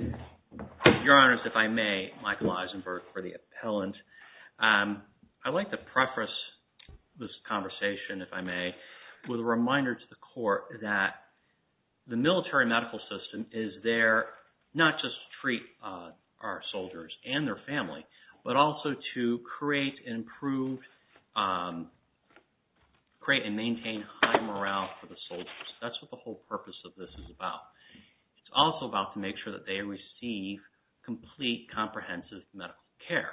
Your Honors, if I may, Michael Eisenberg for the Appellant. I'd like to preface this conversation if I may with a reminder to the Court that the military medical system is there not just to treat our soldiers and their family, but also to create and improve, create and maintain high morale for the soldiers. That's what the whole purpose of this is about. It's also about to make sure that they receive complete, comprehensive medical care.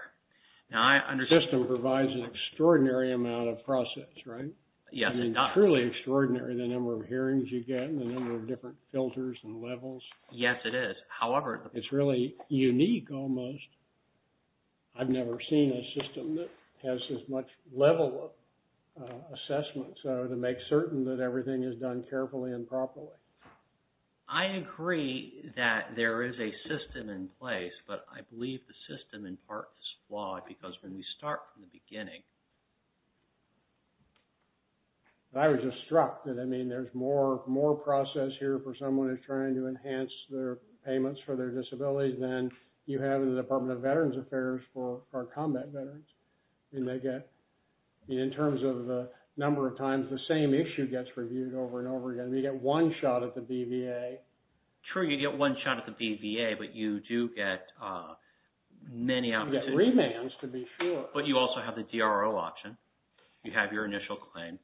Now, I understand... The system provides an extraordinary amount of process, right? Yes, it does. I mean, truly extraordinary, the number of hearings you get and the number of different filters and levels. Yes, it is. However... It's really unique almost. I've never seen a system that has as much level of assessment to make certain that everything is done carefully and properly. I agree that there is a system in place, but I believe the system in part is flawed because when we start from the beginning... I was just struck that, I mean, there's more process here for someone who's trying to enhance their payments for their disability than you have in the Department of Veterans Affairs for our combat veterans. In terms of the number of times the same issue gets reviewed over and over again, we get one shot at the BVA. True, you get one shot at the BVA, but you do get many... You get remands to be sure. But you also have the DRO option. You have your initial claim.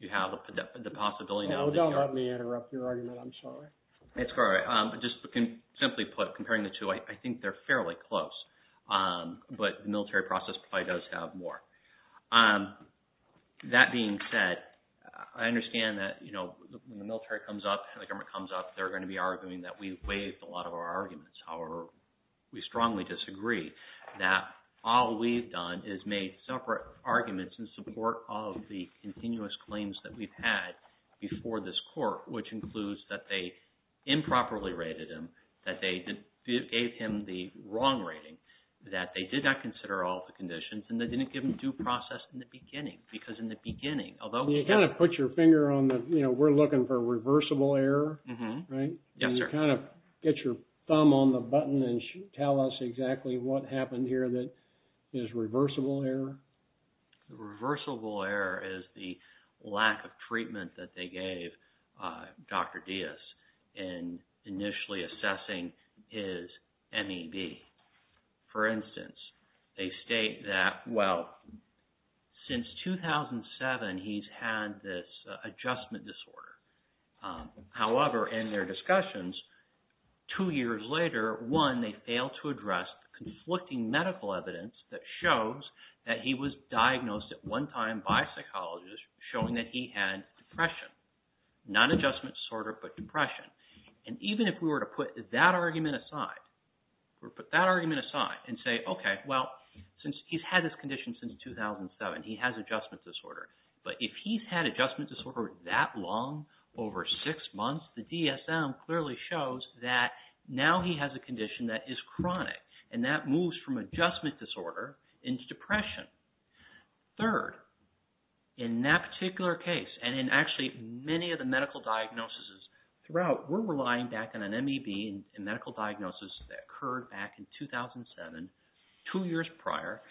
You have the possibility... Don't let me interrupt your argument. I'm sorry. It's all right. Just simply put, comparing the two, I think they're fairly close. But the military process probably does have more. That being said, I understand that when the military comes up and the government comes up, they're going to be arguing that we've waived a lot of our arguments. However, we strongly disagree that all we've done is made separate arguments in support of the continuous claims that we've had before this court, which includes that they improperly rated him, that they gave him the wrong rating, that they did not consider all the conditions, and they didn't give him due process in the beginning. You kind of put your finger on the... We're looking for reversible error, right? Yes, sir. Get your thumb on the button and tell us exactly what happened here that is reversible error. Reversible error is the lack of treatment that they gave Dr. Diaz in initially assessing his MEB. For instance, they state that, well, since 2007, he's had this adjustment disorder. However, in their discussions, two years later, one, they failed to address the conflicting medical evidence that shows that he was diagnosed at one time by a psychologist showing that he had depression. Not adjustment disorder, but depression. Even if we were to put that argument aside and say, okay, well, since he's had this condition since 2007, he has adjustment disorder. But if he's had adjustment disorder that long, over six months, the DSM clearly shows that now he has a condition that is chronic, and that moves from adjustment disorder into depression. Third, in that particular case, and in actually many of the medical diagnoses throughout, we're relying back on an MEB in medical diagnosis that occurred back in 2007, two years prior,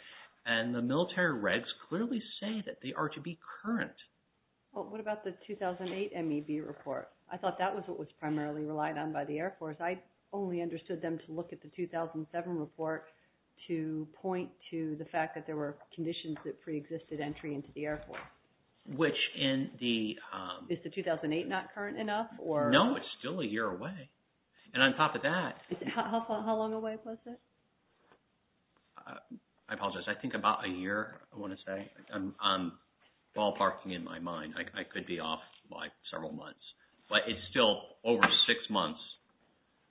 and the military regs clearly say that they are to be current. Well, what about the 2008 MEB report? I thought that was what was primarily relied on by the Air Force. I only understood them to look at the 2007 report to point to the fact that there were conditions that preexisted entry into the Air Force. Which in the… Is the 2008 not current enough? No, it's still a year away. And on top of that… How long away was it? I apologize. I think about a year, I want to say. I'm ballparking in my mind. I could be off by several months, but it's still over six months.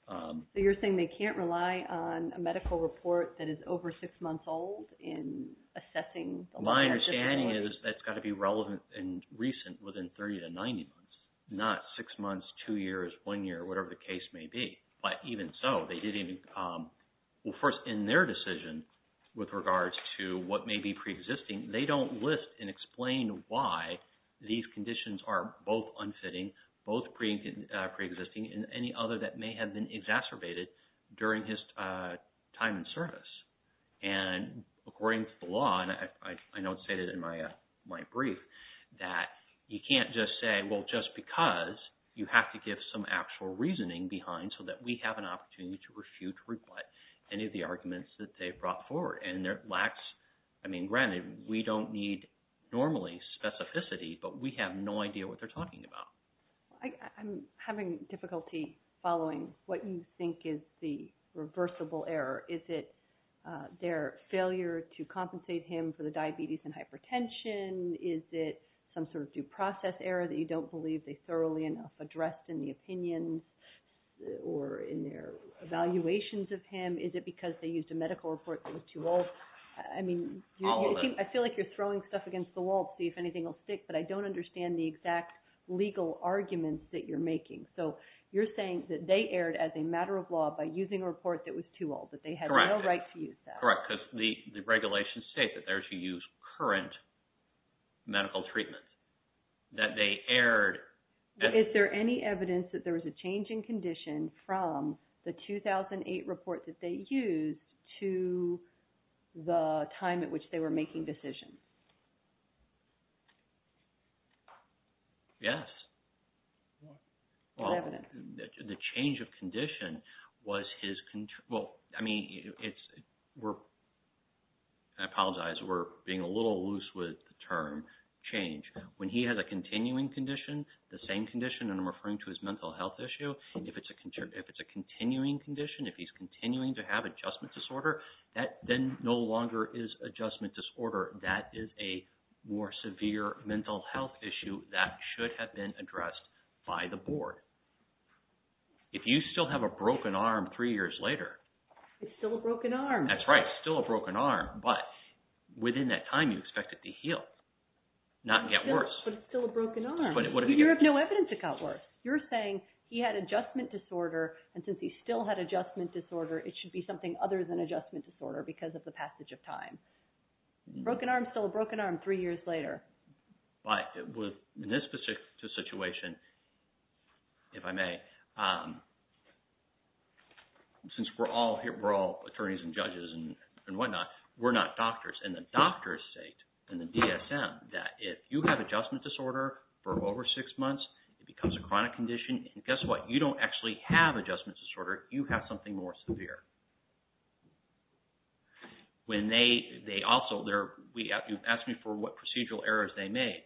So you're saying they can't rely on a medical report that is over six months old in assessing… My understanding is that's got to be relevant and recent within 30 to 90 months, not six months, two years, one year, whatever the case may be. But even so, they didn't… Well, first, in their decision with regards to what may be preexisting, they don't list and explain why these conditions are both unfitting, both preexisting, and any other that may have been exacerbated during his time in service. And according to the law, and I know it's stated in my brief, that you can't just say, well, just because, you have to give some actual reasoning behind so that we have an opportunity to refute or rebut any of the arguments that they've brought forward. And there lacks… I mean, granted, we don't need, normally, specificity, but we have no idea what they're talking about. I'm having difficulty following what you think is the reversible error. Is it their failure to compensate him for the diabetes and hypertension? Is it some sort of due process error that you don't believe they thoroughly enough addressed in the opinions or in their evaluations of him? Is it because they used a medical report that was too old? I mean… All of them. I feel like you're throwing stuff against the wall to see if anything will stick, but I don't understand the exact legal arguments that you're making. So, you're saying that they erred as a matter of law by using a report that was too old, that they had no right to use that. Correct, because the regulations state that they're to use current medical treatment. That they erred… Is there any evidence that there was a change in condition from the 2008 report that they used to the time at which they were making decisions? Yes. What evidence? The change of condition was his… Well, I mean, we're… I apologize, we're being a little loose with the term change. When he has a continuing condition, the same condition, and I'm referring to his mental health issue, if it's a continuing condition, if he's continuing to have adjustment disorder, that then no longer is adjustment disorder. That is a more severe mental health issue that should have been addressed by the board. If you still have a broken arm three years later… It's still a broken arm. That's right. It's still a broken arm, but within that time, you expect it to heal, not get worse. But it's still a broken arm. You have no evidence it got worse. You're saying he had adjustment disorder, and since he still had adjustment disorder, it should be something other than adjustment disorder because of the passage of time. Broken arm is still a broken arm three years later. In this particular situation, if I may, since we're all attorneys and judges and whatnot, we're not doctors. And the doctors state in the DSM that if you have adjustment disorder for over six months, it becomes a chronic condition, and guess what? You don't actually have adjustment disorder. You have something more severe. When they also… You asked me for what procedural errors they made.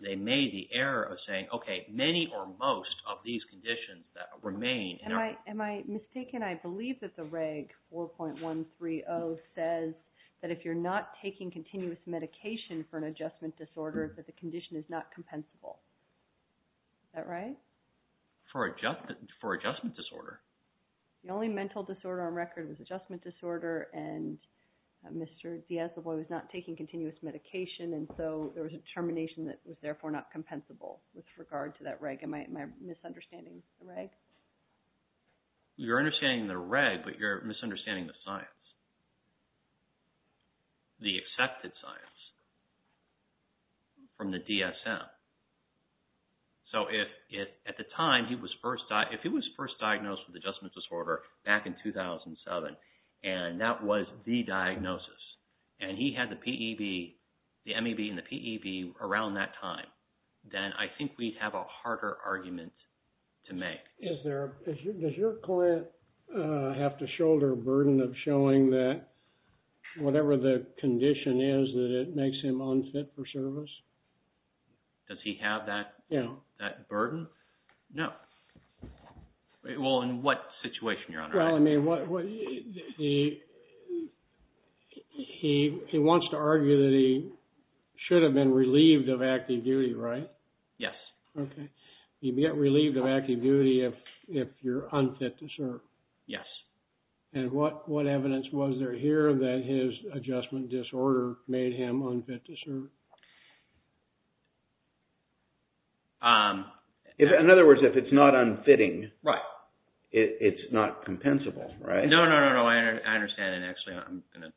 They made the error of saying, okay, many or most of these conditions that remain… He was not taking continuous medication for an adjustment disorder, but the condition is not compensable. Is that right? For adjustment disorder? The only mental disorder on record was adjustment disorder, and Mr. Diaz, the boy, was not taking continuous medication, and so there was a termination that was therefore not compensable with regard to that reg. Am I misunderstanding the reg? You're understanding the reg, but you're misunderstanding the science, the accepted science from the DSM. So if at the time he was first… If he was first diagnosed with adjustment disorder back in 2007, and that was the diagnosis, and he had the MEB and the PEB around that time, then I think we'd have a harder argument to make. Does your client have to shoulder a burden of showing that whatever the condition is that it makes him unfit for service? Does he have that burden? No. Well, in what situation, Your Honor? He wants to argue that he should have been relieved of active duty, right? Yes. Okay. You get relieved of active duty if you're unfit to serve? Yes. And what evidence was there here that his adjustment disorder made him unfit to serve? In other words, if it's not unfitting, it's not compensable, right? No, no, no, I understand, and actually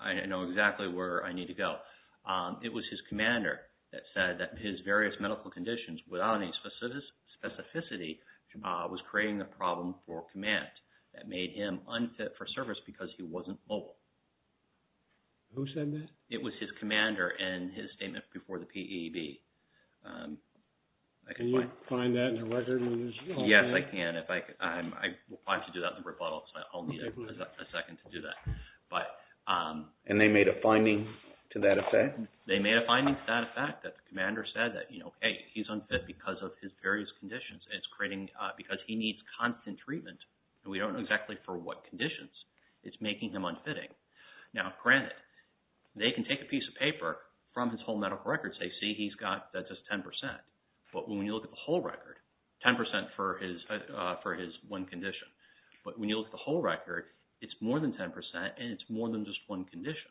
I know exactly where I need to go. It was his commander that said that his various medical conditions without any specificity was creating a problem for command that made him unfit for service because he wasn't mobile. Who said that? It was his commander in his statement before the PEB. Can you find that in the record? Yes, I can. I'm required to do that in the rebuttal, so I'll need a second to do that. And they made a finding to that effect? They made a finding to that effect that the commander said that, you know, hey, he's unfit because of his various conditions. It's creating because he needs constant treatment, and we don't know exactly for what conditions it's making him unfitting. Now, granted, they can take a piece of paper from his whole medical record and say, see, he's got just 10 percent. But when you look at the whole record, 10 percent for his one condition. But when you look at the whole record, it's more than 10 percent, and it's more than just one condition.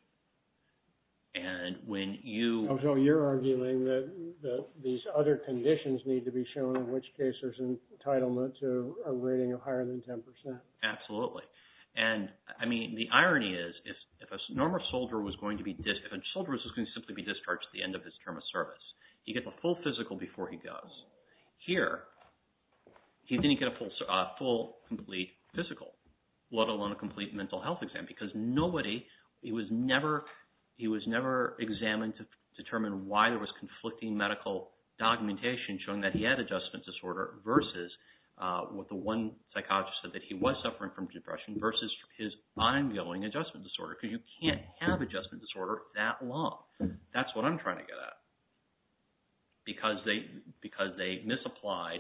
And when you… So you're arguing that these other conditions need to be shown, in which case there's entitlement to a rating of higher than 10 percent. Absolutely. And, I mean, the irony is, if a soldier was going to simply be discharged at the end of his term of service, he gets a full physical before he goes. Here, he didn't get a full complete physical, let alone a complete mental health exam, because nobody… he was never examined to determine why there was conflicting medical documentation showing that he had adjustment disorder versus what the one psychologist said, that he was suffering from depression versus his ongoing adjustment disorder, because you can't have adjustment disorder that long. That's what I'm trying to get at. Because they misapplied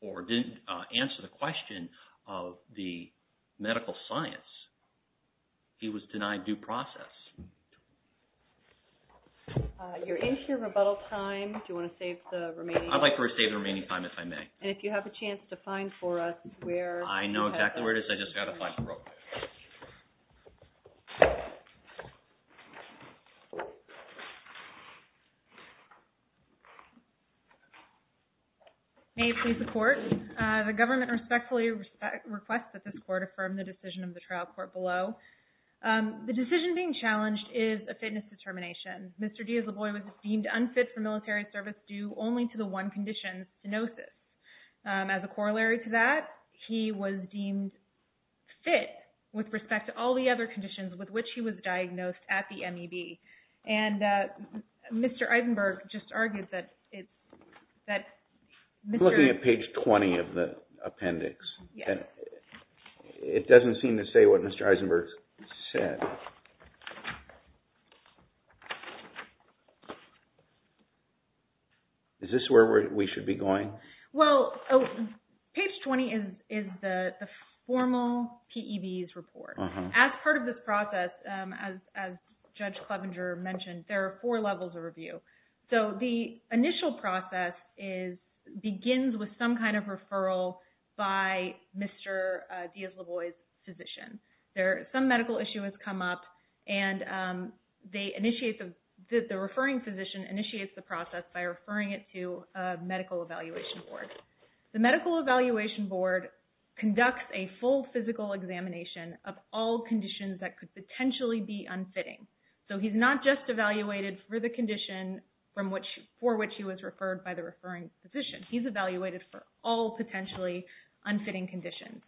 or didn't answer the question of the medical science, he was denied due process. You're into your rebuttal time. Do you want to save the remaining time? I'll save the remaining time if I may. And if you have a chance to find for us where… I know exactly where it is. I just got to find it real quick. May it please the Court. The government respectfully requests that this Court affirm the decision of the trial court below. The decision being challenged is a fitness determination. Mr. Diaz-Loboy was deemed unfit for military service due only to the one condition, stenosis. As a corollary to that, he was deemed fit with respect to all the other conditions with which he was diagnosed at the MEB. And Mr. Eisenberg just argued that… We're looking at page 20 of the appendix. Yes. It doesn't seem to say what Mr. Eisenberg said. Is this where we should be going? Well, page 20 is the formal PEB's report. As part of this process, as Judge Clevenger mentioned, there are four levels of review. So the initial process begins with some kind of referral by Mr. Diaz-Loboy's physician. Some medical issue has come up, and the referring physician initiates the process by referring it to a medical evaluation board. The medical evaluation board conducts a full physical examination of all conditions that could potentially be unfitting. So he's not just evaluated for the condition for which he was referred by the referring physician. He's evaluated for all potentially unfitting conditions.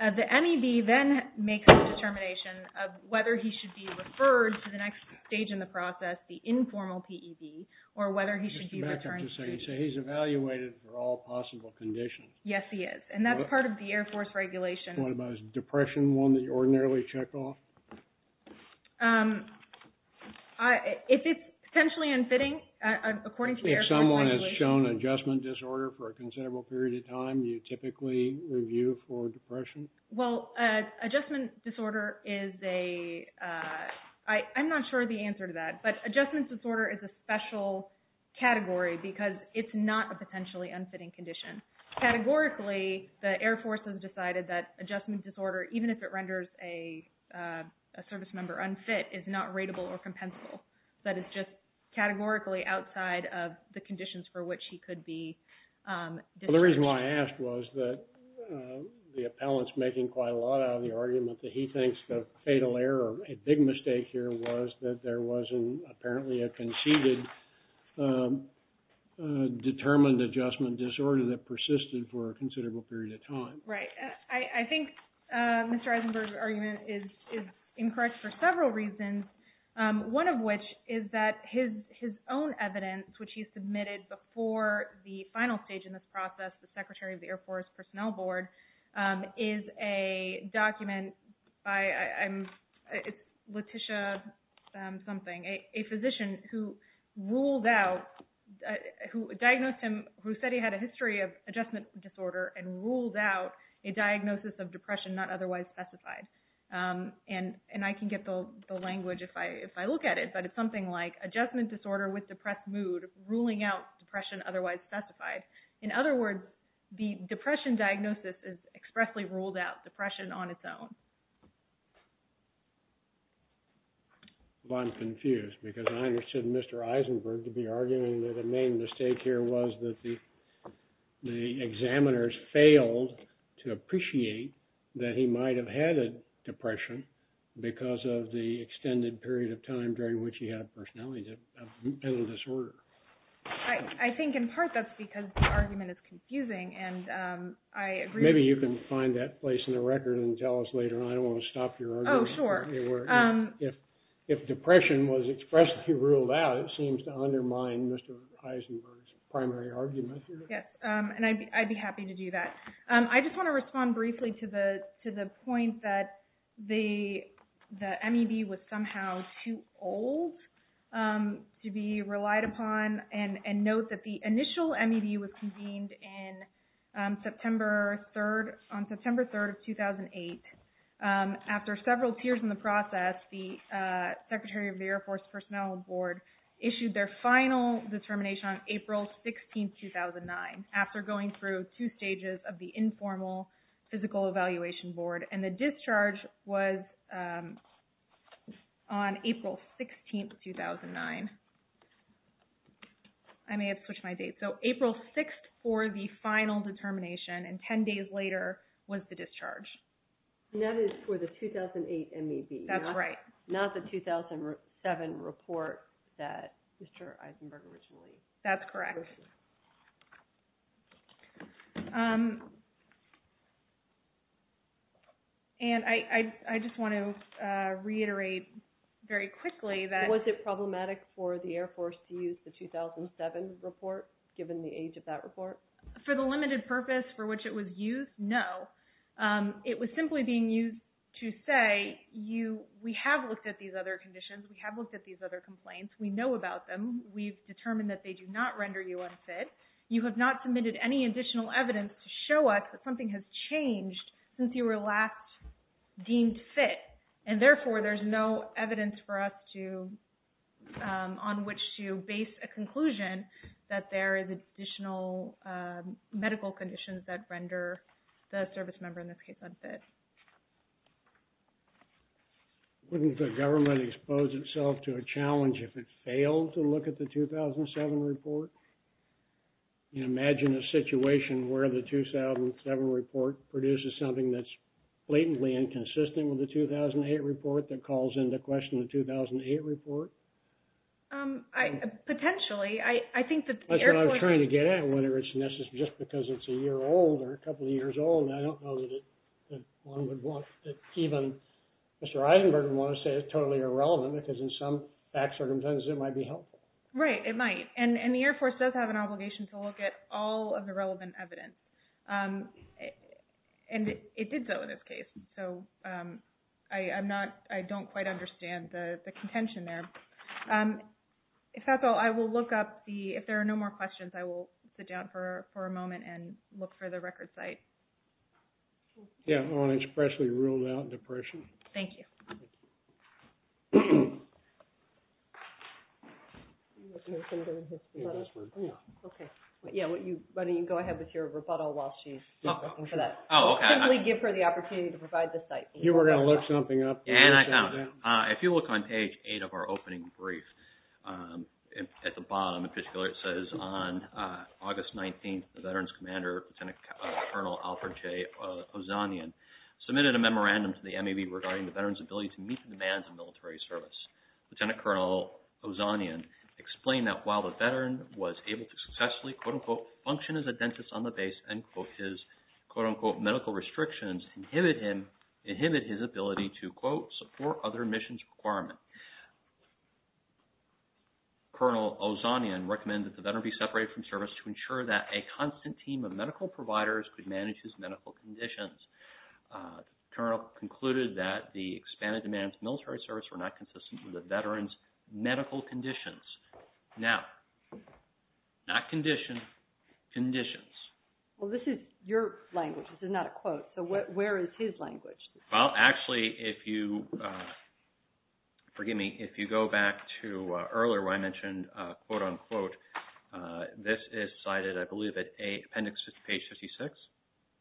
The MEB then makes a determination of whether he should be referred to the next stage in the process, the informal PEB, or whether he should be returned. He's evaluated for all possible conditions. Yes, he is. And that's part of the Air Force regulation. What about his depression, one that you ordinarily check off? If it's potentially unfitting, according to the Air Force regulation… Well, adjustment disorder is a… I'm not sure of the answer to that, but adjustment disorder is a special category because it's not a potentially unfitting condition. Categorically, the Air Force has decided that adjustment disorder, even if it renders a service member unfit, is not rateable or compensable. That is just categorically outside of the conditions for which he could be… Well, the reason why I asked was that the appellant's making quite a lot out of the argument that he thinks the fatal error, a big mistake here, was that there wasn't apparently a conceded determined adjustment disorder that persisted for a considerable period of time. Right. I think Mr. Eisenberg's argument is incorrect for several reasons, one of which is that his own evidence, which he submitted before the final stage in this process, the Secretary of the Air Force Personnel Board, is a document by Letitia something, a physician who ruled out, who diagnosed him, who said he had a history of adjustment disorder and ruled out a diagnosis of depression not otherwise specified. And I can get the language if I look at it, but it's something like adjustment disorder with depressed mood, ruling out depression otherwise specified. In other words, the depression diagnosis has expressly ruled out depression on its own. Well, I'm confused because I understood Mr. Eisenberg to be arguing that the main mistake here was that the examiners failed to appreciate that he might have had a depression because of the extended period of time during which he had a personality disorder. I think in part that's because the argument is confusing and I agree with you. Maybe you can find that place in the record and tell us later. I don't want to stop your argument. Oh, sure. If depression was expressly ruled out, it seems to undermine Mr. Eisenberg's primary argument here. Yes, and I'd be happy to do that. I just want to respond briefly to the point that the MEB was somehow too old to be relied upon and note that the initial MEB was convened on September 3rd of 2008. After several years in the process, the Secretary of the Air Force Personnel Board issued their final determination on April 16, 2009 after going through two stages of the informal physical evaluation board and the discharge was on April 16, 2009. I may have switched my date. So April 6th for the final determination and 10 days later was the discharge. And that is for the 2008 MEB. That's right. Not the 2007 report that Mr. Eisenberg originally... That's correct. And I just want to reiterate very quickly that... Was it problematic for the Air Force to use the 2007 report given the age of that report? For the limited purpose for which it was used, no. It was simply being used to say we have looked at these other conditions. We have looked at these other complaints. We know about them. We've determined that they do not render you unfit. You have not submitted any additional evidence to show us that something has changed since you were last deemed fit. And therefore, there's no evidence for us on which to base a conclusion that there is additional medical conditions that render the service member, in this case, unfit. Wouldn't the government expose itself to a challenge if it failed to look at the 2007 report? Can you imagine a situation where the 2007 report produces something that's blatantly inconsistent with the 2008 report that calls into question the 2008 report? Potentially. I think that the Air Force... That's what I'm trying to get at. Just because it's a year old or a couple of years old, I don't know that one would want... Even Mr. Eisenberg would want to say it's totally irrelevant because in some circumstances it might be helpful. Right, it might. And the Air Force does have an obligation to look at all of the relevant evidence. And it did so in this case. I don't quite understand the contention there. If that's all, I will look up the... If there are no more questions, I will sit down for a moment and look for the record site. Yeah, I want to expressly rule out depression. Thank you. Why don't you go ahead with your rebuttal while she's looking for that. Oh, okay. Simply give her the opportunity to provide the site. You were going to look something up? And I found it. If you look on page 8 of our opening brief, at the bottom, in particular, it says, on August 19th, the veteran's commander, Lieutenant Colonel Alfred J. Ozanian, submitted a memorandum to the MAV regarding the veteran's ability to meet the demands of military service. Lieutenant Colonel Ozanian explained that while the veteran was able to successfully, quote-unquote, function as a dentist on the base, end quote, his, quote-unquote, medical restrictions inhibit his ability to, quote, support other missions requirements. Colonel Ozanian recommended that the veteran be separated from service to ensure that a constant team of medical providers could manage his medical conditions. The colonel concluded that the expanded demands of military service were not consistent with the veteran's medical conditions. Now, not condition, conditions. Well, this is your language. This is not a quote. So, where is his language? Well, actually, if you, forgive me, if you go back to earlier where I mentioned, quote-unquote, this is cited, I believe, at appendix page 56.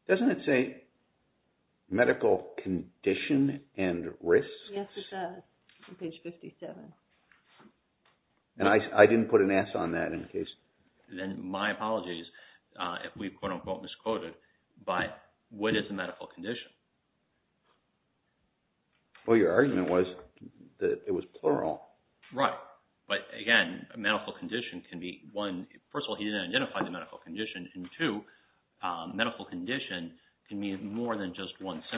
Doesn't it say medical condition and risks? Yes, it does, on page 57. And I didn't put an S on that in case. Then my apologies if we, quote-unquote, misquoted, but what is a medical condition? Well, your argument was that it was plural. Right. But, again, a medical condition can be one, first of all, he didn't identify the medical condition, and two, medical condition can mean more than just one symptom.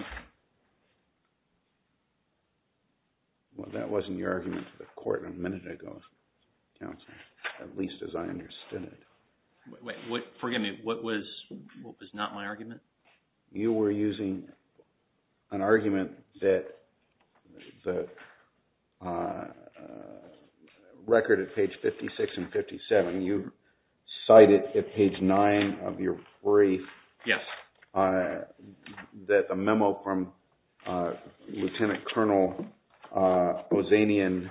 Well, that wasn't your argument to the court a minute ago, counsel, at least as I understood it. Wait. Forgive me. What was not my argument? You were using an argument that the record at page 56 and 57, you cited at page 9 of your brief. Yes. That the memo from Lieutenant Colonel Ozanian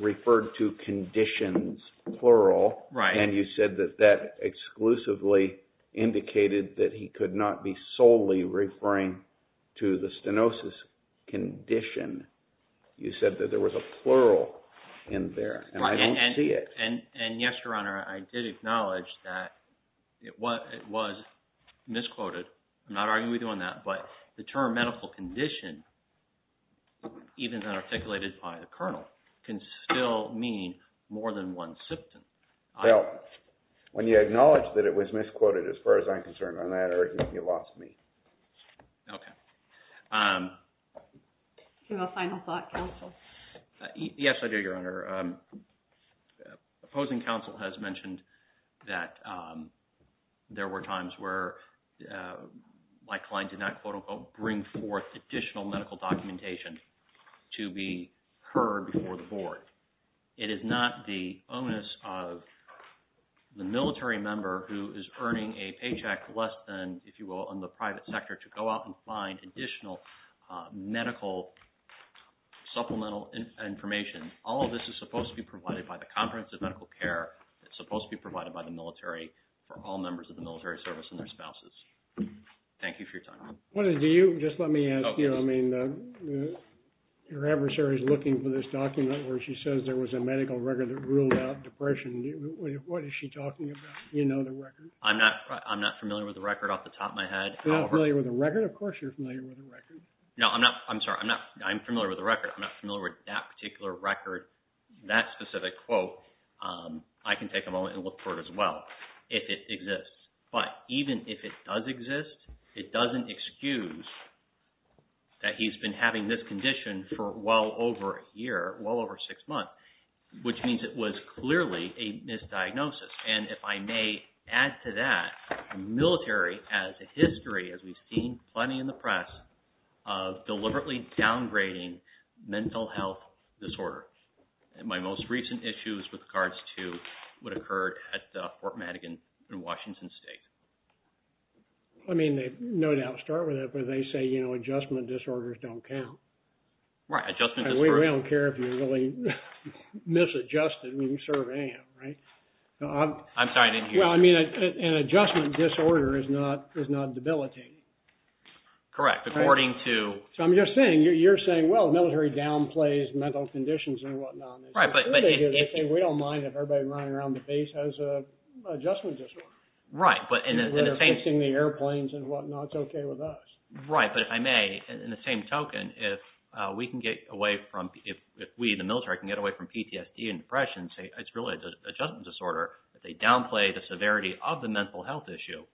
referred to conditions, plural. Right. And you said that that exclusively indicated that he could not be solely referring to the stenosis condition. You said that there was a plural in there, and I don't see it. And, yes, Your Honor, I did acknowledge that it was misquoted. I'm not arguing with you on that, but the term medical condition, even then articulated by the colonel, can still mean more than one symptom. Well, when you acknowledge that it was misquoted, as far as I'm concerned, on that argument, you lost me. Okay. Final thought, counsel. Yes, I do, Your Honor. The opposing counsel has mentioned that there were times where my client did not, quote, unquote, bring forth additional medical documentation to be heard before the Board. It is not the onus of the military member who is earning a paycheck less than, if you will, in the private sector to go out and find additional medical supplemental information. All of this is supposed to be provided by the Conference of Medical Care. It's supposed to be provided by the military for all members of the military service and their spouses. Thank you for your time. Do you? Just let me ask you. I mean, your adversary is looking for this document where she says there was a medical record that ruled out depression. What is she talking about? Do you know the record? I'm not familiar with the record off the top of my head. You're not familiar with the record? Of course you're familiar with the record. No, I'm not. I'm sorry. I'm familiar with the record. I'm not familiar with that particular record, that specific quote. I can take a moment and look for it as well if it exists. But even if it does exist, it doesn't excuse that he's been having this condition for well over a year, well over six months, which means it was clearly a misdiagnosis. And if I may add to that, the military has a history, as we've seen plenty in the press, of deliberately downgrading mental health disorder. My most recent issues with regards to what occurred at Fort Madigan in Washington State. I mean, they no doubt start with it, but they say, you know, adjustment disorders don't count. Right, adjustment disorders. We don't care if you really misadjusted when you serve AM, right? I'm sorry, I didn't hear you. Well, I mean, an adjustment disorder is not debilitating. Correct, according to- So I'm just saying, you're saying, well, the military downplays mental conditions and whatnot. Right, but- We don't mind if everybody running around the base has an adjustment disorder. Right, but in the same- They're fixing the airplanes and whatnot. It's okay with us. Right, but if I may, in the same token, if we can get away from- If we, the military, can get away from PTSD and depression and say, it's really an adjustment disorder, that they downplay the severity of the mental health issue,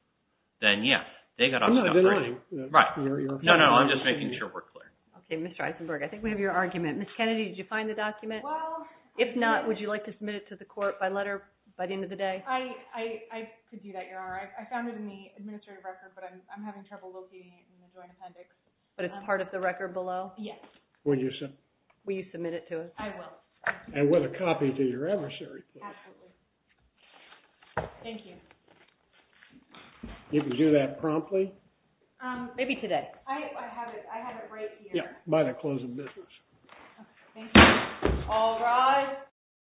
then, yes, they've got to- I'm not denying- Right. No, no, I'm just making sure we're clear. Okay, Ms. Eisenberg, I think we have your argument. Ms. Kennedy, did you find the document? Well- If not, would you like to submit it to the court by letter by the end of the day? I could do that, Your Honor. I found it in the administrative record, but I'm having trouble locating it in the joint appendix. But it's part of the record below? Yes. Will you submit it to us? I will. And with a copy to your adversary. Absolutely. Thank you. You can do that promptly. Maybe today. I have it right here. Yeah, by the close of business. Thank you. All rise.